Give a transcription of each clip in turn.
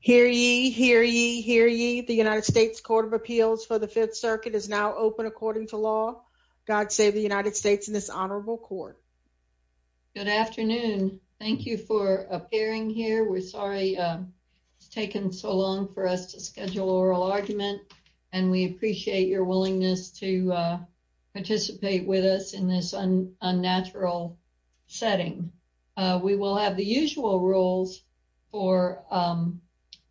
Hear ye, hear ye, hear ye. The United States Court of Appeals for the Fifth Circuit is now open according to law. God save the United States and this honorable court. Good afternoon. Thank you for appearing here. We're sorry it's taken so long for us to schedule oral argument and we appreciate your willingness to participate with us in this unnatural setting. We will have the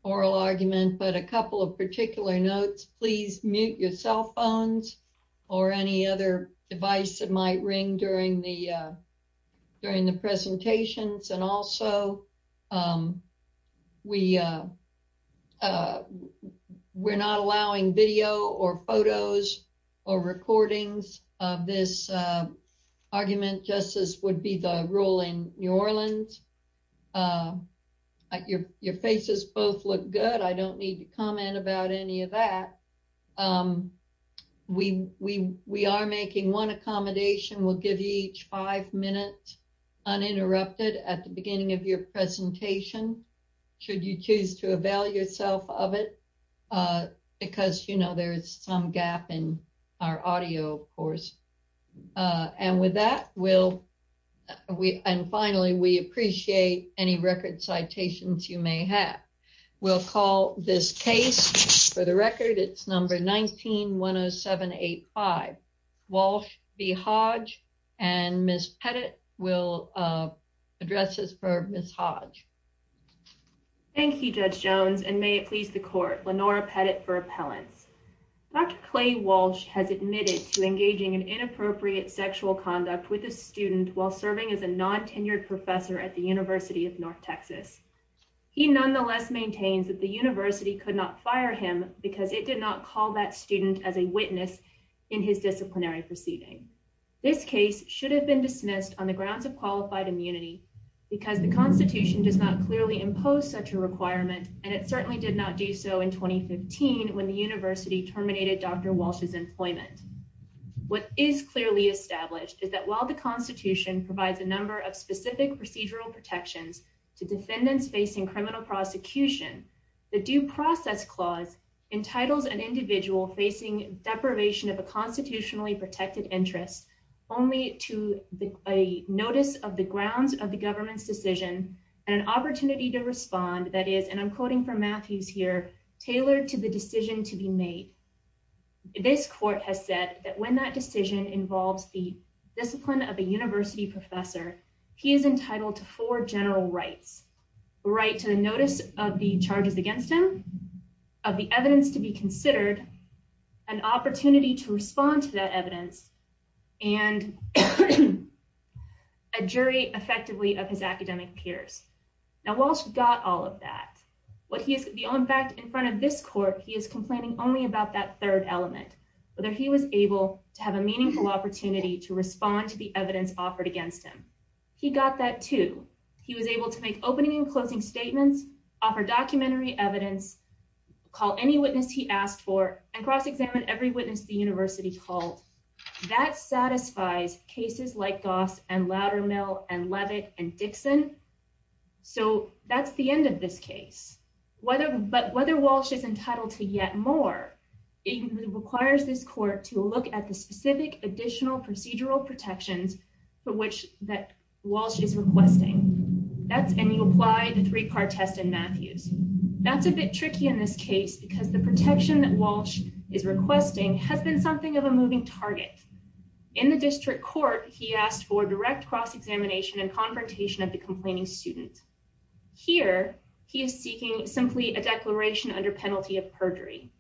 oral argument but a couple of particular notes. Please mute your cell phones or any other device that might ring during the during the presentations and also we we're not allowing video or photos or recordings of this argument. Justice would be the rule in New Orleans. Your faces both look good. I don't need to comment about any of that. We are making one accommodation. We'll give you each five minutes uninterrupted at the beginning of your presentation should you choose to avail yourself of it because you know there is some gap in our audio of course and with that we'll we and finally we appreciate any record citations you may have. We'll call this case for the record. It's number 19-10785. Walsh v. Hodge and Ms. Pettit will address this for Ms. Hodge. Thank you Judge Jones and may it please the court. Lenora Pettit for appellants. Dr. Clay Walsh has admitted to engaging in inappropriate sexual conduct with a student while serving as a non-tenured professor at the University of North Texas. He nonetheless maintains that the university could not fire him because it did not call that student as a witness in his disciplinary proceeding. This case should have been dismissed on the grounds of qualified immunity because the constitution does not clearly impose such a requirement and it certainly did not do so in 2015 when the university terminated Dr. Walsh's employment. What is clearly established is that while the constitution provides a number of specific procedural protections to defendants facing criminal prosecution, the due process clause entitles an individual facing deprivation of a constitutionally protected interest only to a notice of the grounds of the government's decision and an opportunity to respond that is, and I'm quoting from Matthews here, tailored to the decision to be made. This court has said that when that decision involves the discipline of a university professor, he is entitled to four general rights. The right to the notice of the charges against him, of the evidence to be considered, an opportunity to respond to that evidence and a jury effectively of his academic peers. Now Walsh got all of that. What he is, in fact, in front of this court, he is complaining only about that third element, whether he was able to have a meaningful opportunity to respond to the evidence offered against him. He got that too. He was able to make opening and closing statements, offer documentary evidence, call any witness he asked for and cross-examine every witness the university called. That satisfies cases like Goss and Loudermill and Levitt and Dixon. So that's the end of this case. Whether, but whether Walsh is entitled to yet more, it requires this court to look at the specific additional procedural protections for which that Walsh is requesting. That's, and you apply the three-part test in Matthews. That's a bit tricky in this case because the protection that Walsh is requesting has been something of a moving target. In the district court, he asked for direct cross-examination and confrontation of the complaining student. Here, he is seeking simply a declaration under penalty of perjury.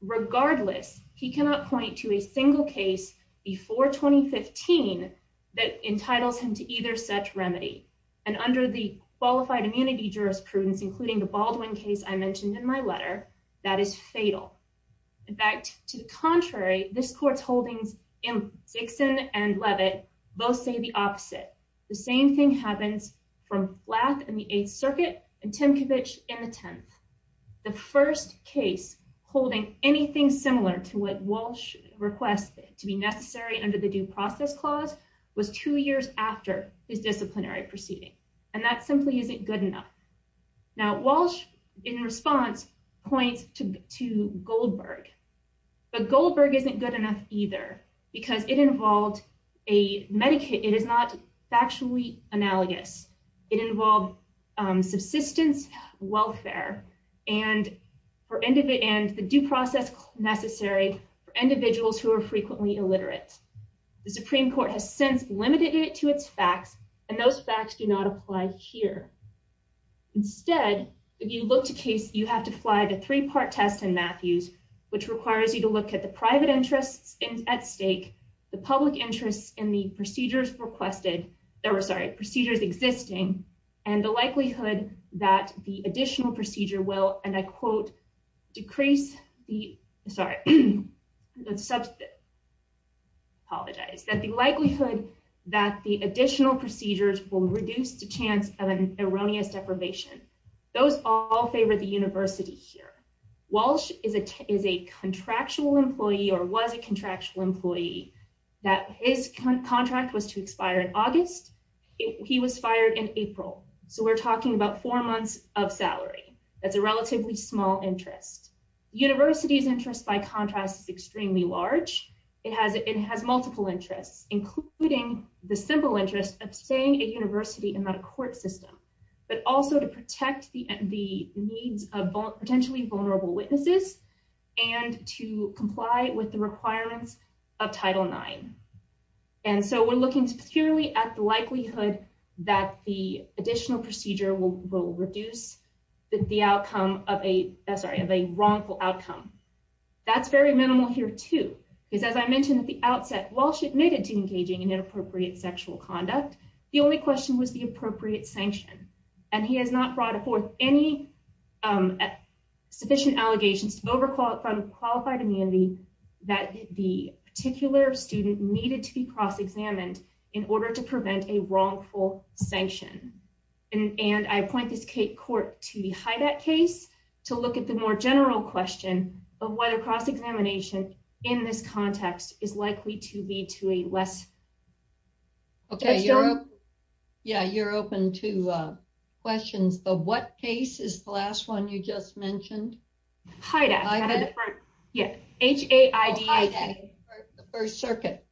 Regardless, he cannot point to a single case before 2015 that entitles him to either such remedy and under the qualified immunity jurisprudence, including the Baldwin case I mentioned in my letter, that is fatal. In fact, to the opposite. The same thing happens from Flack and the Eighth Circuit and Timkovich in the 10th. The first case holding anything similar to what Walsh requested to be necessary under the due process clause was two years after his disciplinary proceeding. And that simply isn't good enough. Now, Walsh in response points to Goldberg, but Goldberg isn't good enough either because it is not factually analogous. It involved subsistence welfare and the due process necessary for individuals who are frequently illiterate. The Supreme Court has since limited it to its facts, and those facts do not apply here. Instead, if you look to case, you have to fly the three-part test in Matthews, which requires you to look at the private interests at stake, the public interests in the procedures requested, or sorry, procedures existing, and the likelihood that the additional procedure will, and I quote, decrease the, sorry, apologize, that the likelihood that the additional procedures will reduce the chance of an erroneous deprivation. Those all favor the contract was to expire in August. He was fired in April. So we're talking about four months of salary. That's a relatively small interest. University's interest by contrast is extremely large. It has multiple interests, including the simple interest of staying a university and not a court system, but also to protect the needs of potentially vulnerable witnesses and to comply with the requirements of Title IX. And so we're looking purely at the likelihood that the additional procedure will reduce the outcome of a, sorry, of a wrongful outcome. That's very minimal here too, because as I mentioned at the outset, Walsh admitted to engaging in inappropriate sexual conduct. The only question was the appropriate sanction, and he has not brought forth any sufficient allegations from qualified immunity that the particular student needed to be cross-examined in order to prevent a wrongful sanction. And I point this court to the HIDAT case to look at the more general question of whether cross-examination in this context is appropriate. What case is the last one you just mentioned? HIDAT. H-A-I-D-A. The First Circuit.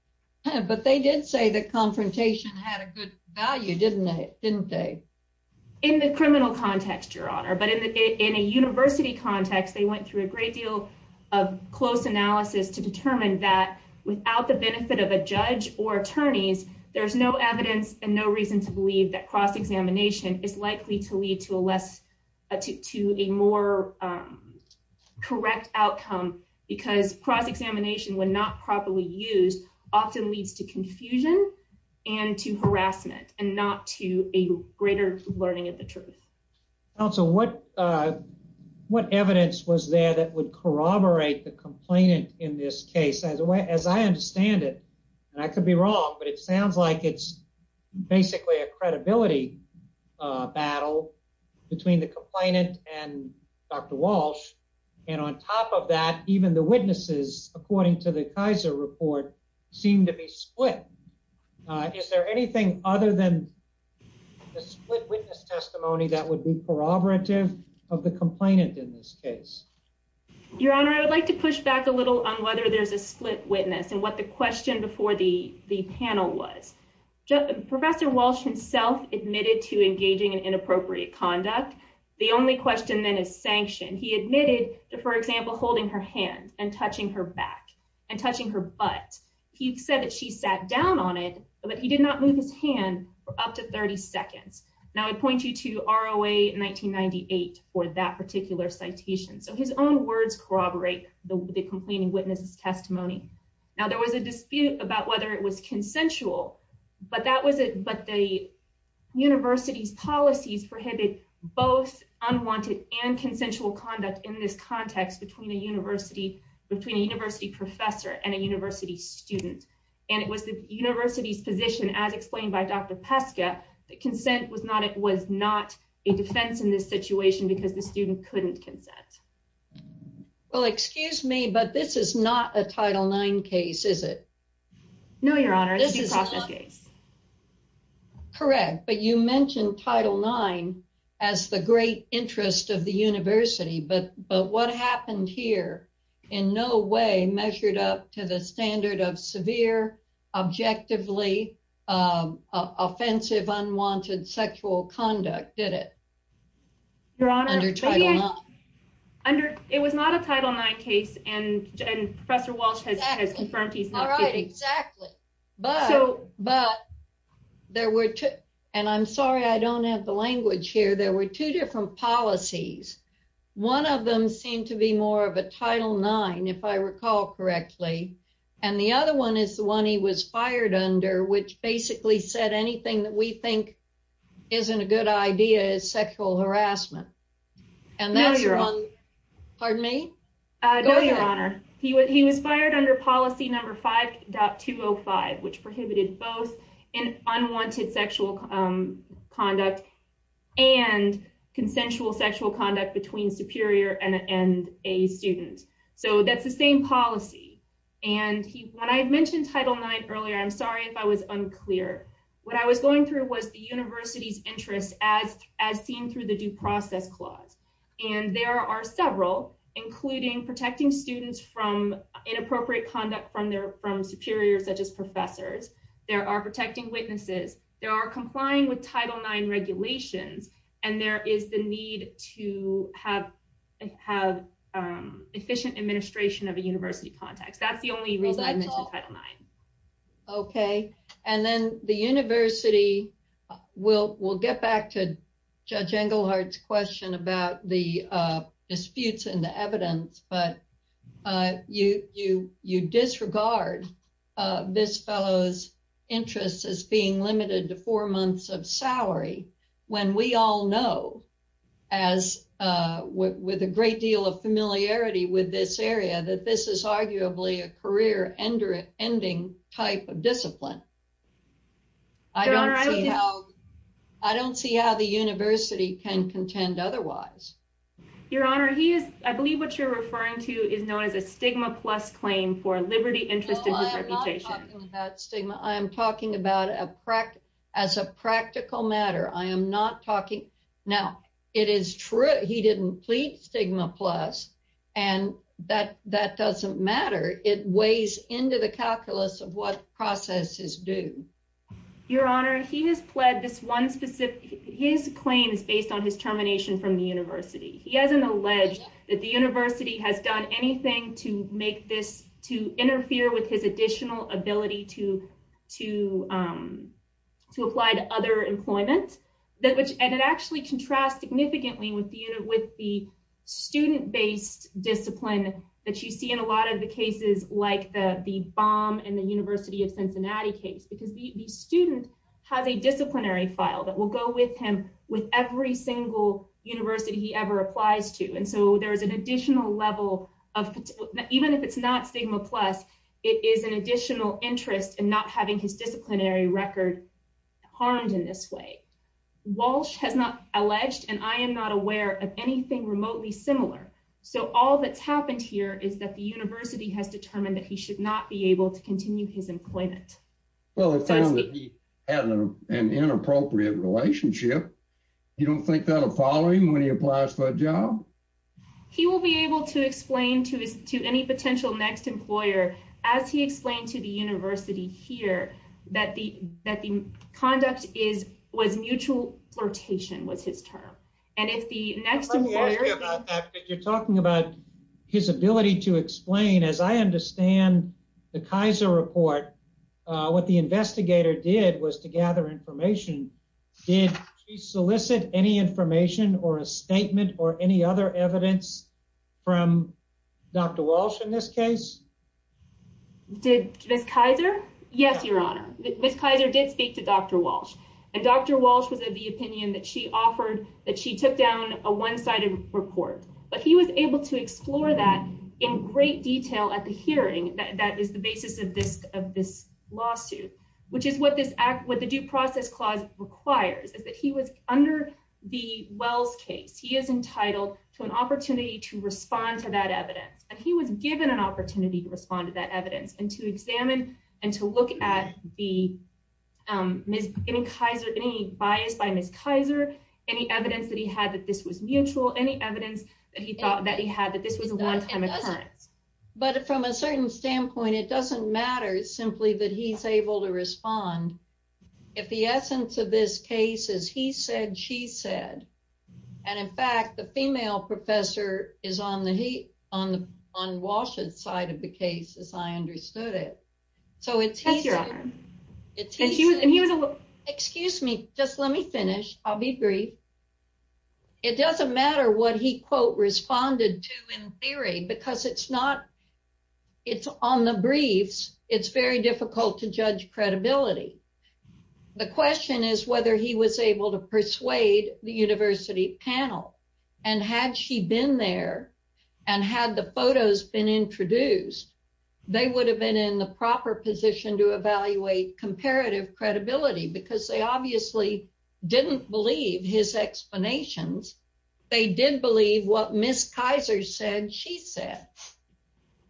But they did say that confrontation had a good value, didn't they? In the criminal context, Your Honor. But in a university context, they went through a great deal of close analysis to determine that without the benefit of a judge or attorneys, there's no evidence and no reason to likely to lead to a less, to a more correct outcome because cross-examination, when not properly used, often leads to confusion and to harassment and not to a greater learning of the truth. Counsel, what evidence was there that would corroborate the complainant in this case? As I understand it, and I could be wrong, but it sounds like it's basically a credibility battle between the complainant and Dr. Walsh. And on top of that, even the witnesses, according to the Kaiser report, seem to be split. Is there anything other than the split witness testimony that would be corroborative of the complainant in this case? Your Honor, I would like to push back a little on whether there's a split witness and what the question before the panel was. Professor Walsh himself admitted to engaging in inappropriate conduct. The only question then is sanction. He admitted to, for example, holding her hand and touching her back and touching her butt. He said that she sat down on it, but he did not move his hand for up to 30 seconds. Now I point you to ROA 1998 for that particular citation. So his own words corroborate the complaining witness's testimony. Now there was a dispute about whether it was consensual, but the university's policies prohibit both unwanted and consensual conduct in this context between a university professor and a university student. And it was the university's position, as explained by Dr. Peska, that consent was not a defense in this situation because the student couldn't consent. Well, excuse me, but this is not a Title IX case, is it? No, Your Honor. This is a process case. Correct, but you mentioned Title IX as the great interest of the university, but what happened here in no way measured up to the standard of severe, objectively offensive, unwanted sexual conduct, did it? Your Honor, it was not a Title IX case, and Professor Walsh has confirmed he's not guilty. All right, exactly, but there were two, and I'm sorry I don't have the language here, there were two different policies. One of them seemed to be more of a Title IX, if I recall correctly, and the other one is the one he was fired under, which basically said anything that we think isn't a good idea is sexual harassment. No, Your Honor. Pardon me? No, Your Honor. He was fired under policy number 5.205, which prohibited both an unwanted sexual conduct and consensual sexual conduct between superior and a student, so that's the same policy, and when I mentioned Title IX earlier, I'm sorry if I was unclear, what I was going through was the university's interest as seen through the due process clause, and there are several, including protecting students from inappropriate conduct from their, from superiors such as professors, there are protecting witnesses, there are complying with Title IX regulations, and there is the need to have efficient administration of a university context. That's the only reason I mentioned Title IX. Okay, and then the university, we'll get back to Judge Engelhardt's question about the disputes and the evidence, but you disregard this fellow's interest as being limited to four months of salary, when we all know, with a great deal of familiarity with this area, that this is arguably a career-ending type of discipline. I don't see how the university can contend otherwise. Your Honor, he is, I believe what you're referring to is known as a stigma-plus claim for liberty interest in his reputation. I'm not talking about stigma, I'm talking about a, as a practical matter. I am not talking, now, it is true he didn't plead stigma-plus, and that doesn't matter. It weighs into the calculus of what processes do. Your Honor, he has pled this one specific, his claim is based on his termination from the university. He hasn't alleged that the university has done anything to make this, to interfere with his additional ability to apply to other employment, that which, and it actually contrasts significantly with the student-based discipline that you see in a lot of the cases like the Baum and the University of Cincinnati case, because the student has a disciplinary file that will go with him with every single university he ever applies to, and so there is an additional level of, even if it's not stigma-plus, it is an additional interest in not having his disciplinary record harmed in this way. Walsh has not alleged, and I am not aware of anything remotely similar, so all that's happened here is that the Well, he found that he had an inappropriate relationship. You don't think that will follow him when he applies for a job? He will be able to explain to any potential next employer, as he explained to the university here, that the conduct was mutual flirtation, was his term, and if the next employer... You're talking about his ability to explain, as I understand the Kaiser report, what the investigator did was to gather information. Did he solicit any information or a statement or any other evidence from Dr. Walsh in this case? Did Ms. Kaiser? Yes, your honor. Ms. Kaiser did speak to Dr. Walsh, and Dr. Walsh was of the opinion that she offered, that she took down a one-sided report, but he was able to explore that in great detail at the hearing. That is the basis of this lawsuit, which is what the due process clause requires, is that he was under the Wells case. He is entitled to an opportunity to respond to that evidence, and he was given an opportunity to respond to that evidence and to examine and to look at any bias by Ms. Kaiser, any evidence that he had that this was mutual, any evidence that he thought that he had that this was a one-time occurrence. But from a certain standpoint, it doesn't matter simply that he's able to respond. If the essence of this case is he said, she said, and in fact, the female professor is on Walsh's side of the case, as I understood it. That's your honor. And he was, excuse me, just let me finish. I'll be brief. It doesn't matter what he, quote, responded to in theory, because it's not, it's on the briefs. It's very difficult to judge credibility. The question is whether he was able to persuade the university panel, and had she been there, and had the photos been introduced, they would have been in the proper position to evaluate comparative credibility, because they obviously didn't believe his explanations. They did believe what Ms. Kaiser said she said.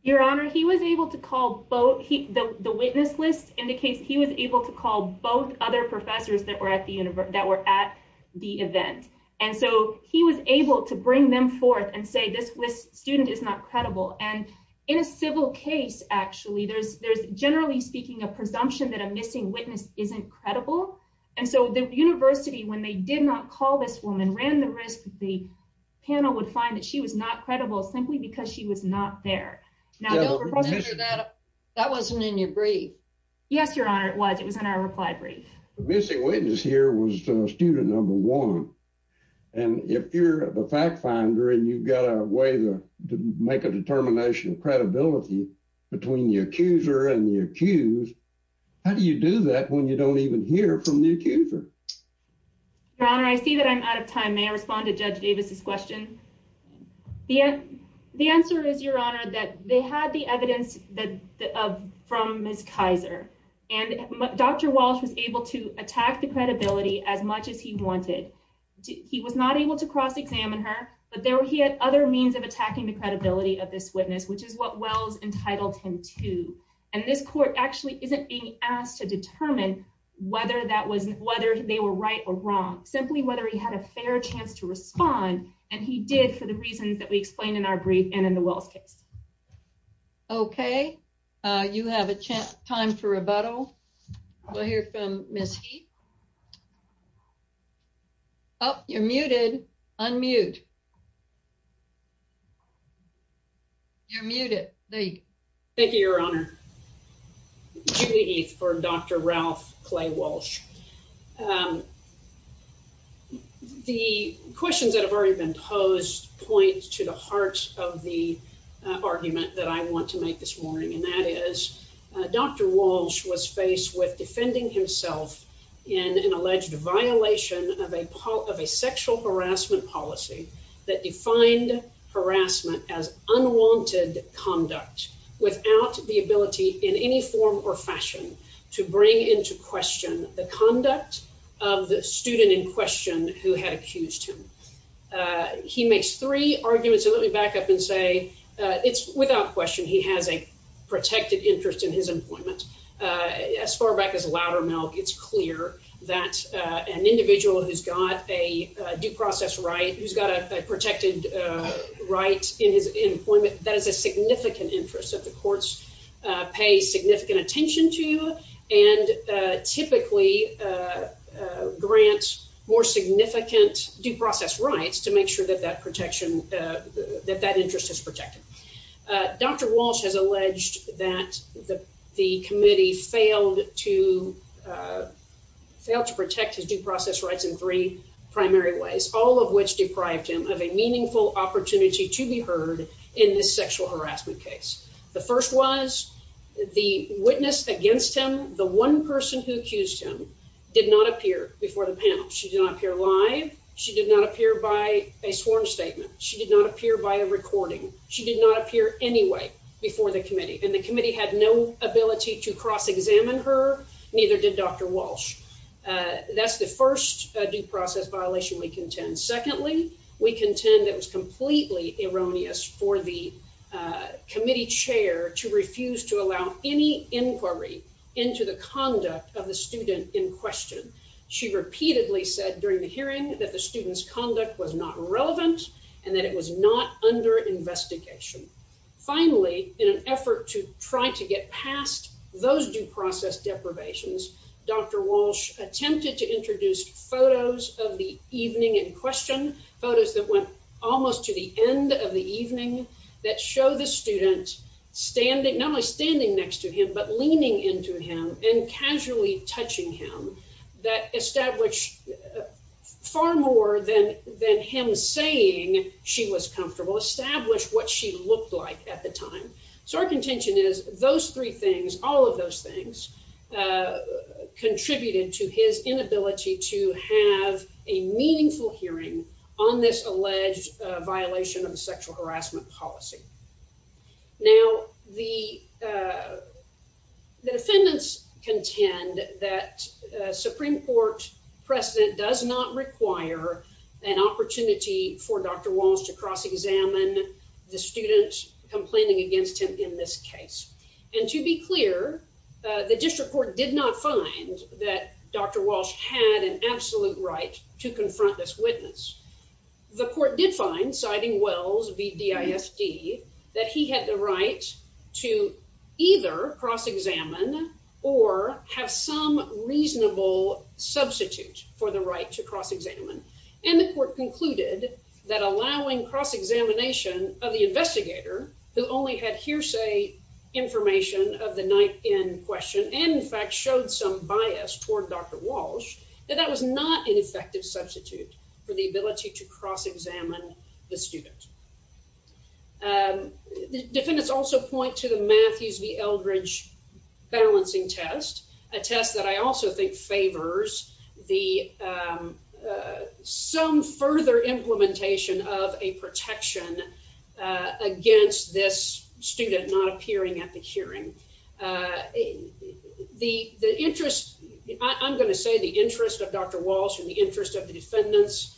Your honor, he was able to call both, the witness list indicates he was able to call both other professors that were at the event. And so he was able to bring them forth and say, this student is not credible. And in a civil case, actually, there's generally speaking a presumption that a missing witness isn't credible. And so the university, when they did not call this woman, ran the risk that the panel would find that she was not credible simply because she was not there. Now, that wasn't in your brief. Yes, your honor, it was. It was in our reply brief. The missing witness here was student number one. And if you're the fact finder and you've got a way to make a determination of credibility between the accuser and the accused, how do you do that when you don't even hear from the accuser? Your honor, I see that I'm out of time. May I respond to Judge Davis's question? The answer is, your honor, that they had the evidence that from Ms. Kaiser, and Dr. Walsh was able to attack the credibility as much as he wanted. He was not able to cross examine her, but he had other means of attacking the credibility of this witness, which is what Wells entitled him to. And this court actually isn't being asked to determine whether they were right or wrong, simply whether he had a fair chance to respond. And he did for the reasons that we explained in our brief and in the Wells case. Okay, you have a chance time for rebuttal. We'll hear from Ms. Heath. Oh, you're muted. Unmute. You're muted. Thank you, your honor. Judy for Dr. Ralph Clay Walsh. The questions that have already been posed point to the heart of the argument that I want to make this morning. And that is Dr. Walsh was faced with defending himself in an alleged violation of a sexual harassment policy that defined harassment as unwanted conduct without the ability in any form or fashion to bring into question the conduct of the student in question who had accused him. He makes three arguments. So let me back up and say, it's without question, he has a protected interest in his employment. As far back as Loudermilk, it's clear that an individual who's got a due process right, who's got a protected right in his employment, that is a significant interest that the courts pay significant attention to and typically grant more significant due process rights to make sure that that protection, that that interest is protected. Dr. Walsh has alleged that the committee failed to protect his due process rights in three primary ways, all of which deprived him of a meaningful opportunity to be heard in this sexual harassment case. The first was the witness against him. The one person who accused him did not appear before the panel. She did not appear live. She did not by a sworn statement. She did not appear by a recording. She did not appear anyway before the committee and the committee had no ability to cross-examine her, neither did Dr. Walsh. That's the first due process violation we contend. Secondly, we contend it was completely erroneous for the committee chair to refuse to allow any inquiry into the conduct of the student in was not relevant and that it was not under investigation. Finally, in an effort to try to get past those due process deprivations, Dr. Walsh attempted to introduce photos of the evening in question, photos that went almost to the end of the evening that show the student standing, not only standing next to him, but leaning into him and casually touching him that established far more than him saying she was comfortable, established what she looked like at the time. So our contention is those three things, all of those things contributed to his inability to have a meaningful hearing on this alleged violation of the sexual harassment policy. Now, the defendants contend that Supreme Court precedent does not require an opportunity for Dr. Walsh to cross-examine the students complaining against him in this case. And to be clear, the district court did not find that Dr. Walsh had an absolute right to confront this witness. The court did find, citing Wells v. DISD, that he had the right to either cross-examine or have some reasonable substitute for the right to cross-examine. And the court concluded that allowing cross-examination of the investigator who only had hearsay information of the night in question, and in fact showed some bias toward Dr. Walsh, that that was not an effective substitute for the ability to cross-examine the student. The defendants also point to the Matthews v. Eldridge balancing test, a test that I also think favors some further implementation of a protection against this student not appearing at the hearing. The interest, I'm going to say the interest of Dr. Walsh and the interest of the defendants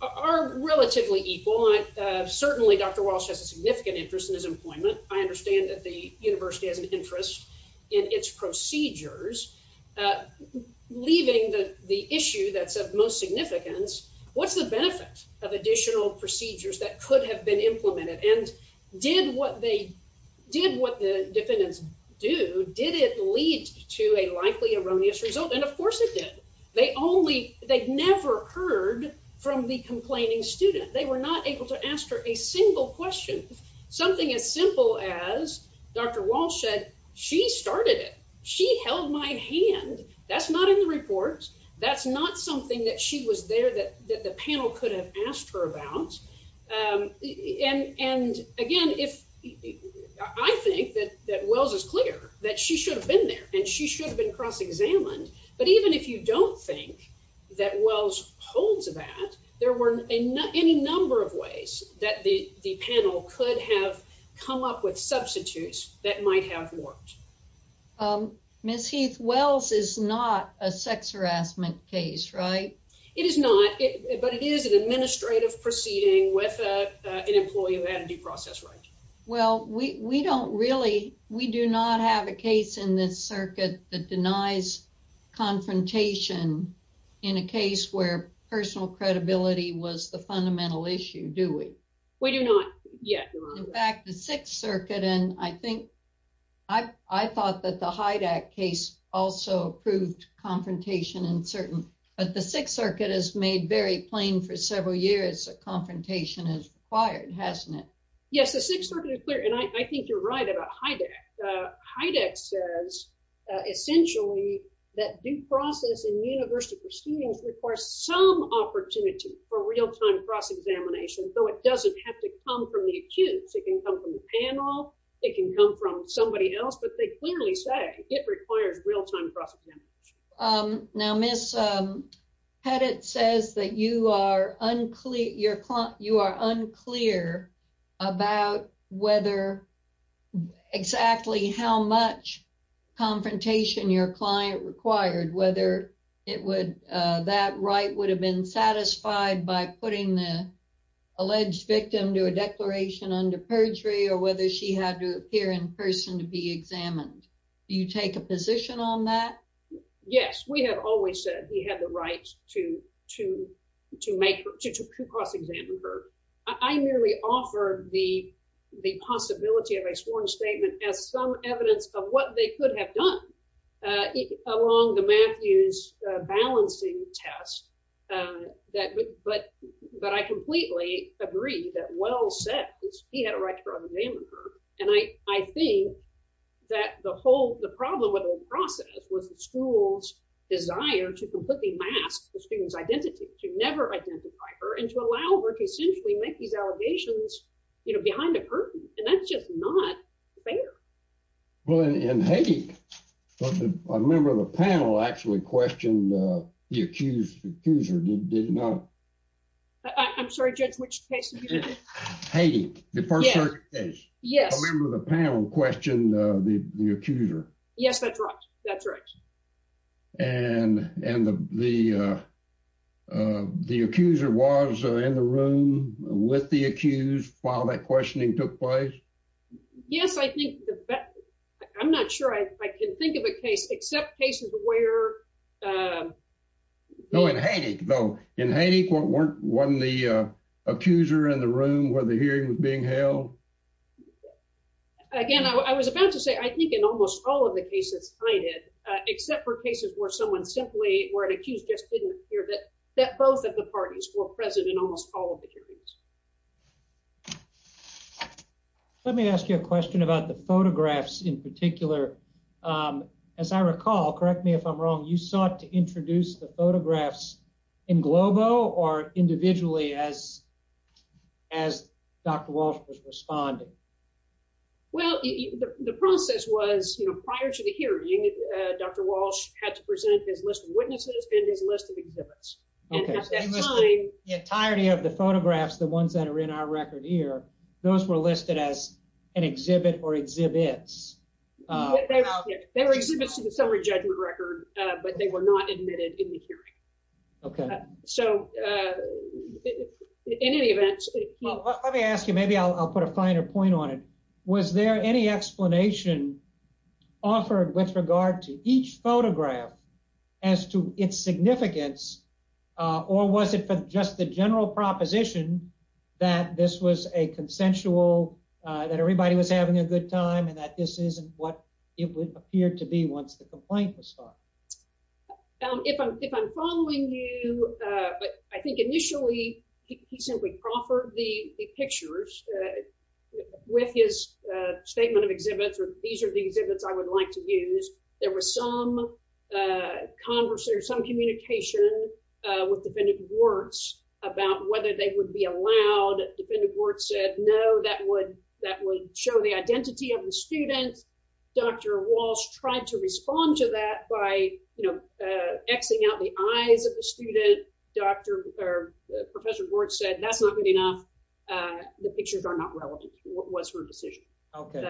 are relatively equal. Certainly, Dr. Walsh has a significant interest in his employment. I understand that the university has an interest in its procedures. Leaving the issue that's of most significance, what's the benefit of additional procedures that could have been implemented? And did what they, did what the defendants do, did it lead to a likely erroneous result? And of course it did. They only, they'd never heard from the complaining student. They were not able to ask her a single question. Something as simple as Dr. Walsh said, she started it. She held my hand. That's not in the report. That's not something that she was there that the panel could have asked her about. And again, I think that Wells is clear that she should have been there and she should have been cross-examined. But even if you don't think that Wells holds that, there were any number of ways that the panel could have come up with substitutes that might have worked. Ms. Heath, Wells is not a sex harassment case, right? It is not, but it is an administrative proceeding with an employee who had a due process right. Well, we don't really, we do not have a case in this circuit that denies confrontation in a case where personal credibility was the fundamental issue, do we? We do not yet. In fact, the Sixth Circuit, and I think, I thought that the Hyde Act case also proved confrontation in certain, but the Sixth Circuit has made very plain for several years that confrontation is required, hasn't it? Yes, the Sixth Circuit is clear and I think you're right about Hyde Act. Hyde Act says essentially that due process in university proceedings requires some opportunity for real-time cross-examination, though it doesn't have to come from the accused. It can come from the panel, it can come from somebody else, but they clearly say it requires real-time cross-examination. Now, Ms. Pettit says that you are unclear, you're, you are unclear about whether exactly how much confrontation your client required, whether it would, that right would have been satisfied by putting the alleged victim to a declaration under perjury or whether she had to appear in person to be examined. Do you take a position on that? Yes, we have always said he had the right to, to, to make, to cross-examine her. I merely offered the possibility of a sworn statement as some evidence of what they could have done along the Matthews balancing test that, but, but I completely agree that Wells said he had a right to cross-examine her and I, I think that the whole, the problem with the process was the school's desire to completely mask the student's identity, to never identify her and to allow her to essentially make these allegations, you know, behind a curtain and that's just not fair. Well, in Haiti, a member of the panel actually questioned the accused accuser, did you know? I'm sorry, Judge, which case? Haiti, the first case. Yes. A member of the panel questioned the, the accuser. Yes, that's right, that's right. And, and the, the, the accuser was in the room with the accused while that questioning took place? Yes, I think the, I'm not sure I can think of a case except cases where... No, in Haiti though, in Haiti weren't, weren't the accuser in the room where the hearing was being held? Again, I was about to say, I think in almost all of the cases cited, except for cases where someone simply, where an accused just didn't appear, that, that both of the parties were present in almost all of the hearings. Let me ask you a question about the photographs in particular. As I recall, correct me if I'm wrong, you sought to introduce the photographs in globo or individually as, as Dr. Walsh was responding? Well, the process was, you know, prior to the hearing, Dr. Walsh had to present his list of witnesses and his list of exhibits. And at that time, the entirety of the photographs, the ones that are in our record here, those were listed as an exhibit or exhibits? They were exhibits to the summary judgment record, but they were not admitted in the hearing. Okay. So, in any event, well, let me ask you, maybe I'll put a finer point on it. Was there any explanation offered with regard to each photograph as to its significance, or was it for just the general proposition that this was a consensual, that everybody was having a good time and that this isn't what it would appear to be once the complaint was filed? If I'm, if I'm following you, but I think initially he simply proffered the pictures with his statement of exhibits, or these are the exhibits I would like to use. There was some conversation or some communication with defendant Warts about whether they would be allowed. Defendant Warts said, no, that would, that would show the identity of the student. Dr. Walsh tried to respond to that by, you know, x-ing out the eyes of the student. Dr., or Professor Warts said, that's not good enough. The pictures are not relevant. What was her decision? Okay.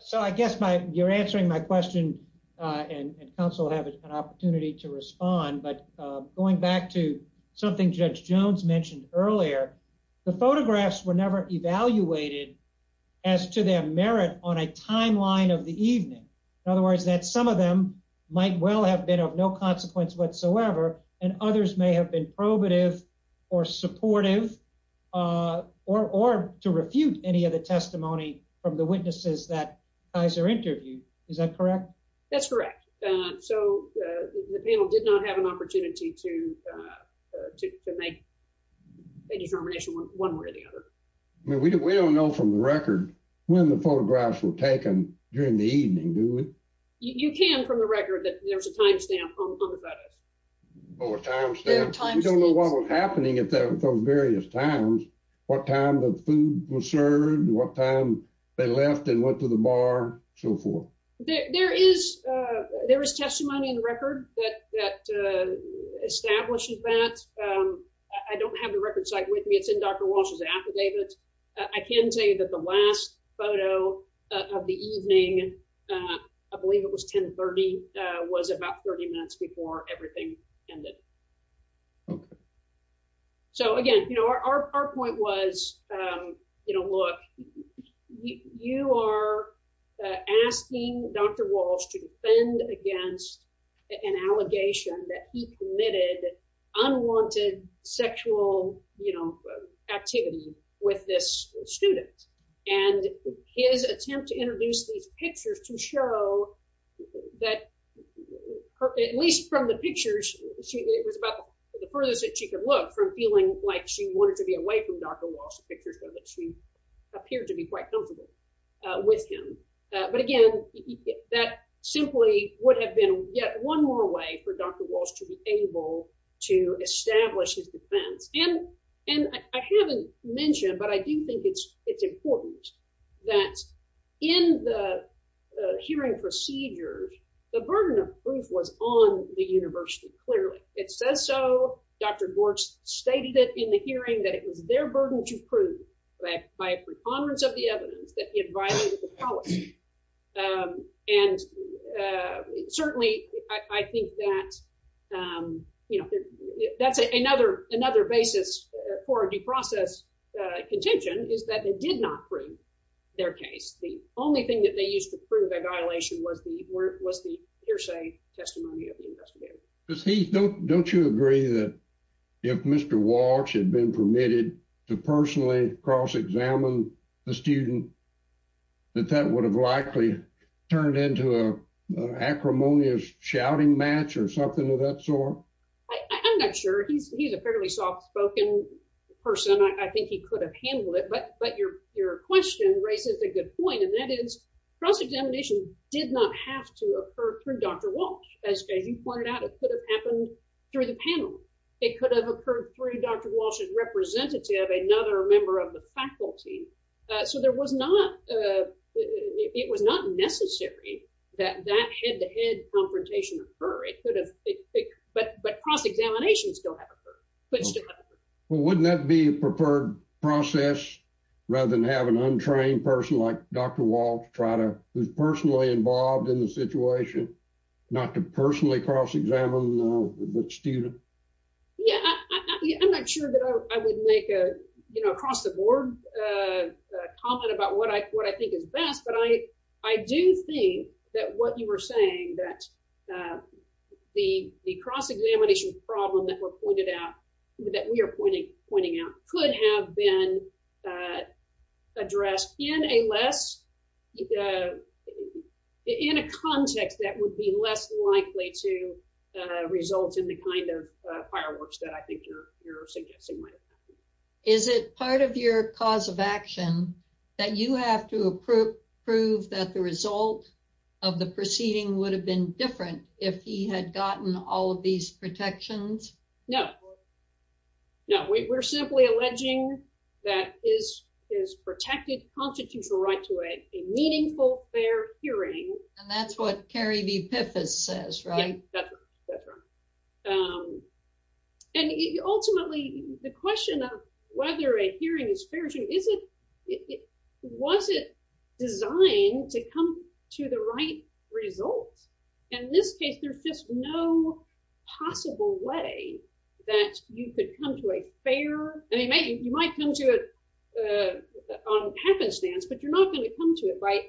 So, I guess my, you're answering my question, and counsel will have an opportunity to respond, but going back to something Judge Jones mentioned earlier, the photographs were never evaluated as to their merit on a timeline of the evening. In other words, that some of them might well have been of no consequence whatsoever, and others may have been probative or supportive, or to refute any of the testimony from the witnesses that Kaiser interviewed. Is that correct? That's correct. So, the panel did not have an opportunity to make a determination one way or the other. I mean, we don't know from the record when the photographs were taken during the evening, do we? You can from the record that there's a time stamp on the photos. Oh, a time stamp. You don't know what was happening at those various times, what time the food was served, what time they left and went to the bar, so forth. There is, there is testimony in record that establishes that. I don't have the record site with me. It's in Dr. Walsh's affidavit. I can say that the last photo of the evening, I believe it was 10 30, was about 30 minutes before everything ended. So, again, you know, our point was, you know, look, you are asking Dr. Walsh to defend against an allegation that he committed unwanted sexual, you know, activity with this student, and his attempt to introduce these pictures to show that, at least from the pictures, she, it was about the furthest that she could look from feeling like she wanted to be away from Dr. Walsh's picture so that she appeared to be quite comfortable with him. But again, that simply would have been yet one more way for Dr. Walsh to be able to establish his defense. And, I haven't mentioned, but I do think it's, it's important that in the hearing procedures, the burden of proof was on the university, clearly. It says so, Dr. Gortz stated it in the hearing that it was their burden to prove that by a preponderance of the evidence that it violated the policy. And certainly, I think that, you know, that's another basis for a due process contention is that they did not prove their case. The only thing that they used to prove the violation was the hearsay testimony of the investigator. Don't you agree that if Mr. Walsh had been permitted to personally cross-examine the student, that that would have likely turned into a acrimonious shouting match or something of that sort? I'm not sure. He's a fairly soft spoken person. I think he could have handled it. But, but your, your question raises a good point. And that is cross-examination did not have to occur through Dr. Walsh. As you pointed out, it could have happened through the panel. It could have occurred through Dr. Walsh's representative, another member of the faculty. So there was not it was not necessary that that head-to-head confrontation occur. It could have, but cross-examination still have occurred. Well, wouldn't that be a preferred process rather than have an untrained person like Dr. Walsh try to, who's personally involved in the situation, not to personally cross-examine the student? Yeah, I'm not sure that I would make a, you know, across the board comment about what I, what I think is best. But I, I do think that what you were saying that the, the cross-examination problem that were pointed out, that we are pointing, pointing out could have been addressed in a less, in a context that would be less likely to result in the kind of fireworks that I think you're, you're suggesting. Is it part of your cause of action that you have to approve, prove that the result of the proceeding would have been different if he had gotten all of these protections? No, no, we're simply alleging that is, is protected constitutional right to a meaningful fair hearing. And that's what the epiphysis says, right? That's right. That's right. And ultimately the question of whether a hearing is fair to you, is it, was it designed to come to the right results? And in this case, there's just no possible way that you could come to a fair, I mean, maybe you might come to it on happenstance, but you're not going to come to it by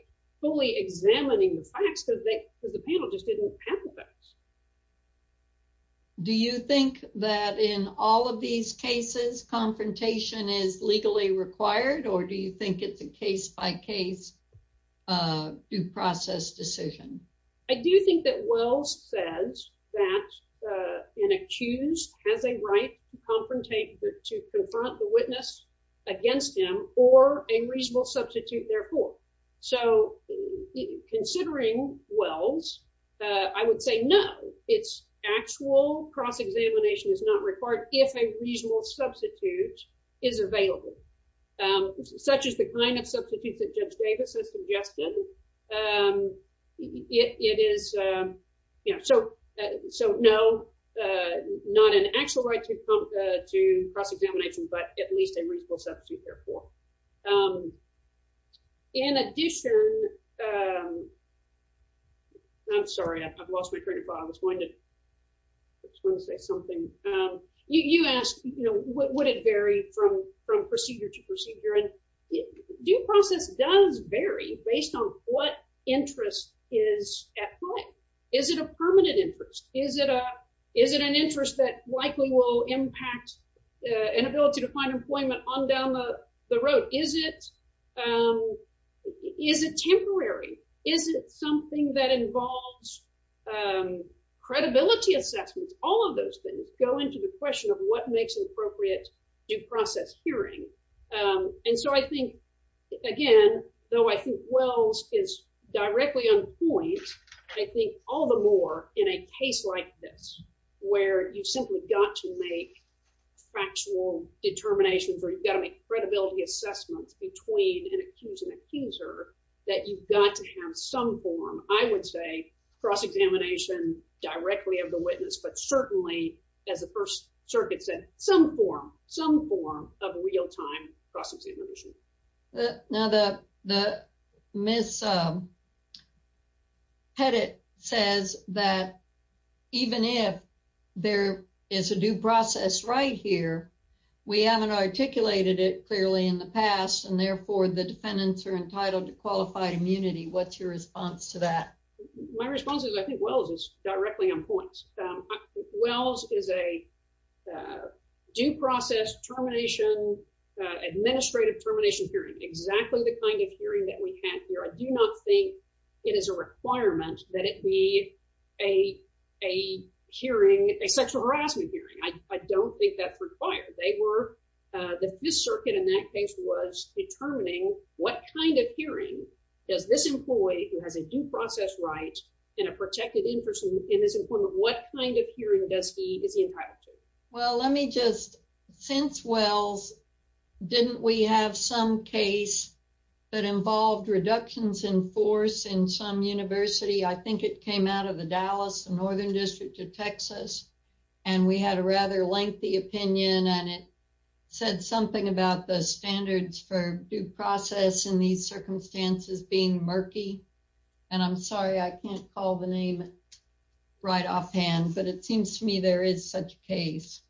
fully examining the facts, because the panel just didn't have the facts. Do you think that in all of these cases, confrontation is legally required, or do you think it's a case-by-case due process decision? I do think that Wells says that an accused has a right to confront the witness against him, or a reasonable substitute, therefore. So considering Wells, I would say no, it's actual cross-examination is not required if a reasonable substitute is available, such as the kind of substitutes that Judge Davis has suggested. It is, you know, so, so no, not an actual right to come to cross-examination, but at least a reasonable substitute, therefore. In addition, I'm sorry, I've lost my train of thought, I was going to, I was going to say something. You asked, you know, would it vary from, from procedure to procedure, and due process does vary based on what interest is at play. Is it a permanent interest? Is it a, is it an interest that likely will impact an ability to find employment on down the, the road? Is it, is it temporary? Is it something that involves credibility assessments? All of those things go into the question of what makes an appropriate due process hearing. And so I think, again, though I think Wells is directly on point, I think all the more in a case like this, where you've simply got to make factual determinations, or you've got to make credibility assessments between an accused and accuser, that you've got to have some form, I would say, cross-examination directly of the witness, but certainly, as the First Circuit said, some form, some form of real-time cross-examination. Now the, the Ms. Pettit says that even if there is a due process right here, we haven't articulated it clearly in the past, and therefore the defendants are entitled to qualified immunity. What's your response to that? My response is, I think Wells is directly on exactly the kind of hearing that we had here. I do not think it is a requirement that it be a, a hearing, a sexual harassment hearing. I, I don't think that's required. They were, the Fifth Circuit in that case was determining what kind of hearing does this employee who has a due process right and a protected interest in his employment, what kind of hearing does he, is he entitled to? Well, let me just, since Wells, didn't we have some case that involved reductions in force in some university? I think it came out of the Dallas, the Northern District of Texas, and we had a rather lengthy opinion, and it said something about the standards for due process in these circumstances being murky, and I'm sorry I can't call the name right offhand, but it seems to me there is such a case.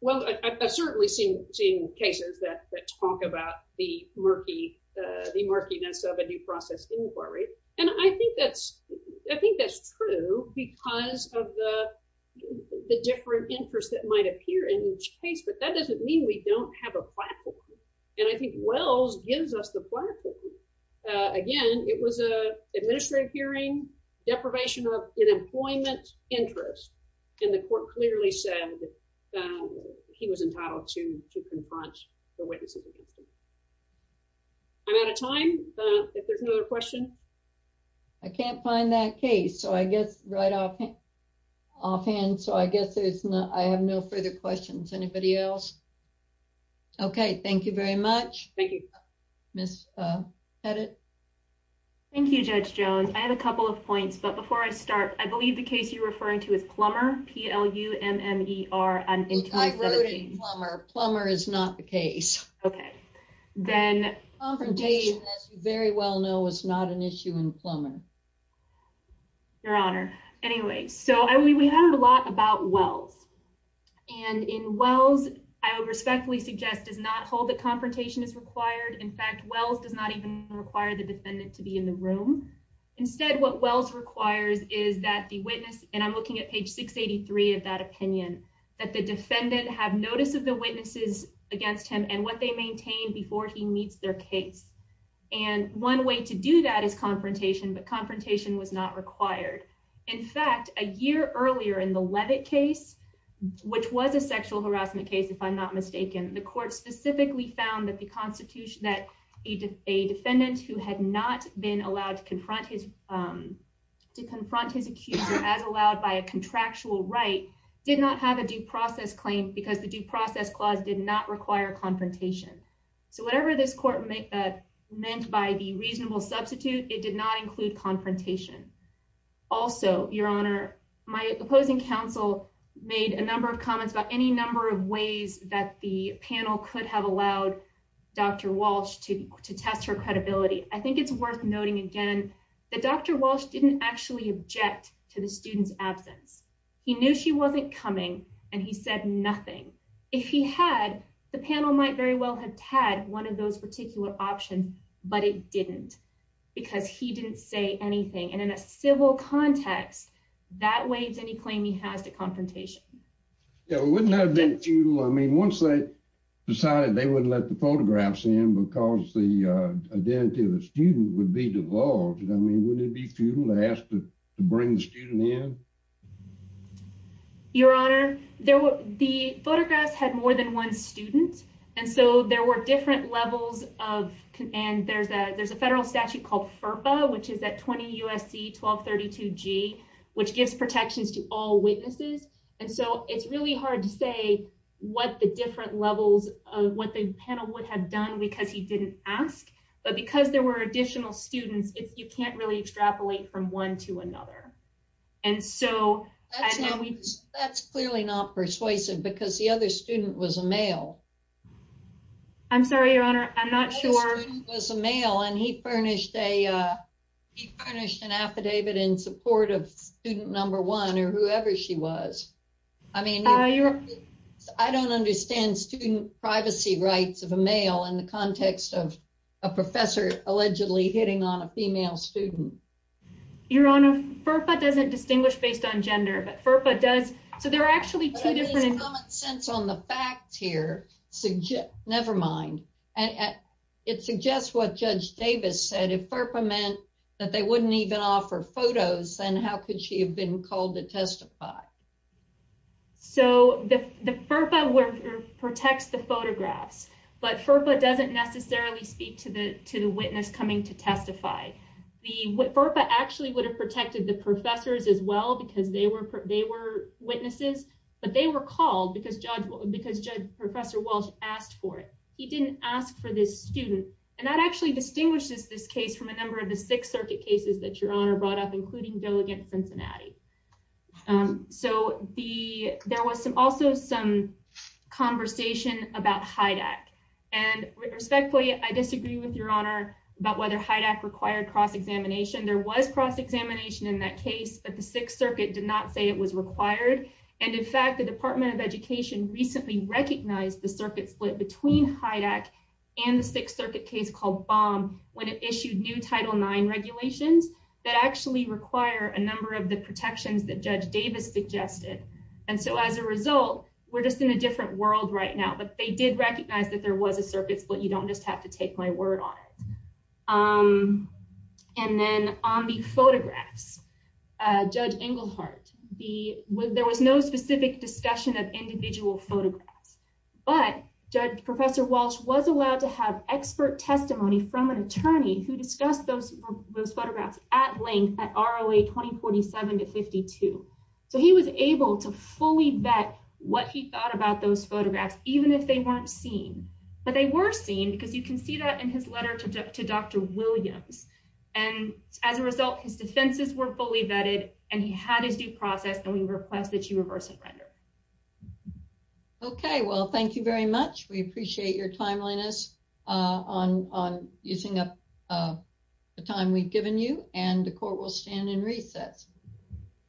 Well, I, I've certainly seen, seen cases that, that talk about the murky, the murkiness of a due process inquiry, and I think that's, I think that's true because of the, the different interests that might appear in each case, but that doesn't mean we don't have a platform, and I think Wells gives us the platform. Again, it was a administrative hearing, deprivation of unemployment interest, and the court clearly said that he was entitled to, to confront the witnesses against him. I'm out of time, if there's another question. I can't find that case, so I guess right off, offhand, so I guess there's no, I have no further questions. Anybody else? Okay, thank you very much. Thank you. Miss Pettit. Thank you, Judge Jones. I have a couple of points, but before I start, I believe the case you're referring to is Plummer, P-L-U-M-M-E-R. I'm including Plummer. Plummer is not the case. Okay, then. Confrontation, as you very well know, is not an issue in Plummer. Your honor. Anyway, so I, we, we heard a lot about Wells, and in Wells, I would respectfully suggest, does not hold that confrontation is required. In fact, Wells does not even require the defendant to be in the room. Instead, what Wells requires is that the witness, and I'm looking at page 683 of that opinion, that the defendant have notice of the witnesses against him and what they maintain before he meets their case, and one way to do that is confrontation, but confrontation was not required. In fact, a year earlier in the Leavitt case, which was a sexual harassment case, if I'm not mistaken, the court specifically found that the constitution, that a defendant who had not been allowed to confront his, to confront his accuser as allowed by a contractual right did not have a due process claim because the due process clause did not require confrontation. So whatever this meant by the reasonable substitute, it did not include confrontation. Also, your honor, my opposing counsel made a number of comments about any number of ways that the panel could have allowed Dr. Walsh to, to test her credibility. I think it's worth noting again that Dr. Walsh didn't actually object to the student's absence. He knew she wasn't coming and he said nothing. If he had, the panel might very well have had one of those particular options, but it didn't because he didn't say anything. And in a civil context, that waives any claim he has to confrontation. Yeah, it wouldn't have been futile. I mean, once they decided they wouldn't let the photographs in because the identity of the student would be divulged. I mean, wouldn't it be futile to bring the student in? Your honor, there were, the photographs had more than one student. And so there were different levels of, and there's a, there's a federal statute called FERPA, which is that 20 USC 1232 G, which gives protections to all witnesses. And so it's really hard to say what the different levels of what the panel would have done because he didn't ask, but because there were additional students, it's, you can't really extrapolate from one to another. And so that's clearly not persuasive because the other student was a male. I'm sorry, your honor. I'm not sure. It was a male and he furnished an affidavit in support of student number one or whoever she was. I mean, I don't understand student a professor allegedly hitting on a female student. Your honor, FERPA doesn't distinguish based on gender, but FERPA does. So there are actually two different, common sense on the facts here suggest nevermind. And it suggests what judge Davis said, if FERPA meant that they wouldn't even offer photos, then how could she have been called to testify? So the FERPA protects the photographs, but FERPA doesn't necessarily speak to the, to the witness coming to testify. The FERPA actually would have protected the professors as well because they were, they were witnesses, but they were called because judge, because judge, professor Walsh asked for it. He didn't ask for this student. And that actually distinguishes this case from a number of the six circuit cases that your honor brought up, including Delegate Cincinnati. So the, there was some, also some conversation about HIDAC and respectfully, I disagree with your honor about whether HIDAC required cross-examination. There was cross examination in that case, but the sixth circuit did not say it was required. And in fact, the department of education recently recognized the circuit split between HIDAC and the sixth of the protections that judge Davis suggested. And so as a result, we're just in a different world right now, but they did recognize that there was a circuit split. You don't just have to take my word on it. And then on the photographs, judge Englehart, the, there was no specific discussion of individual photographs, but judge professor Walsh was allowed to have expert testimony from an attorney who discussed those photographs at length at ROA 2047 to 52. So he was able to fully vet what he thought about those photographs, even if they weren't seen, but they were seen because you can see that in his letter to Dr. Williams. And as a result, his defenses were fully vetted and he had his due process and we request that you reverse and render. Okay. Well, thank you very much. We appreciate your timeliness on, on using up the time we've given you and the court will stand in recess.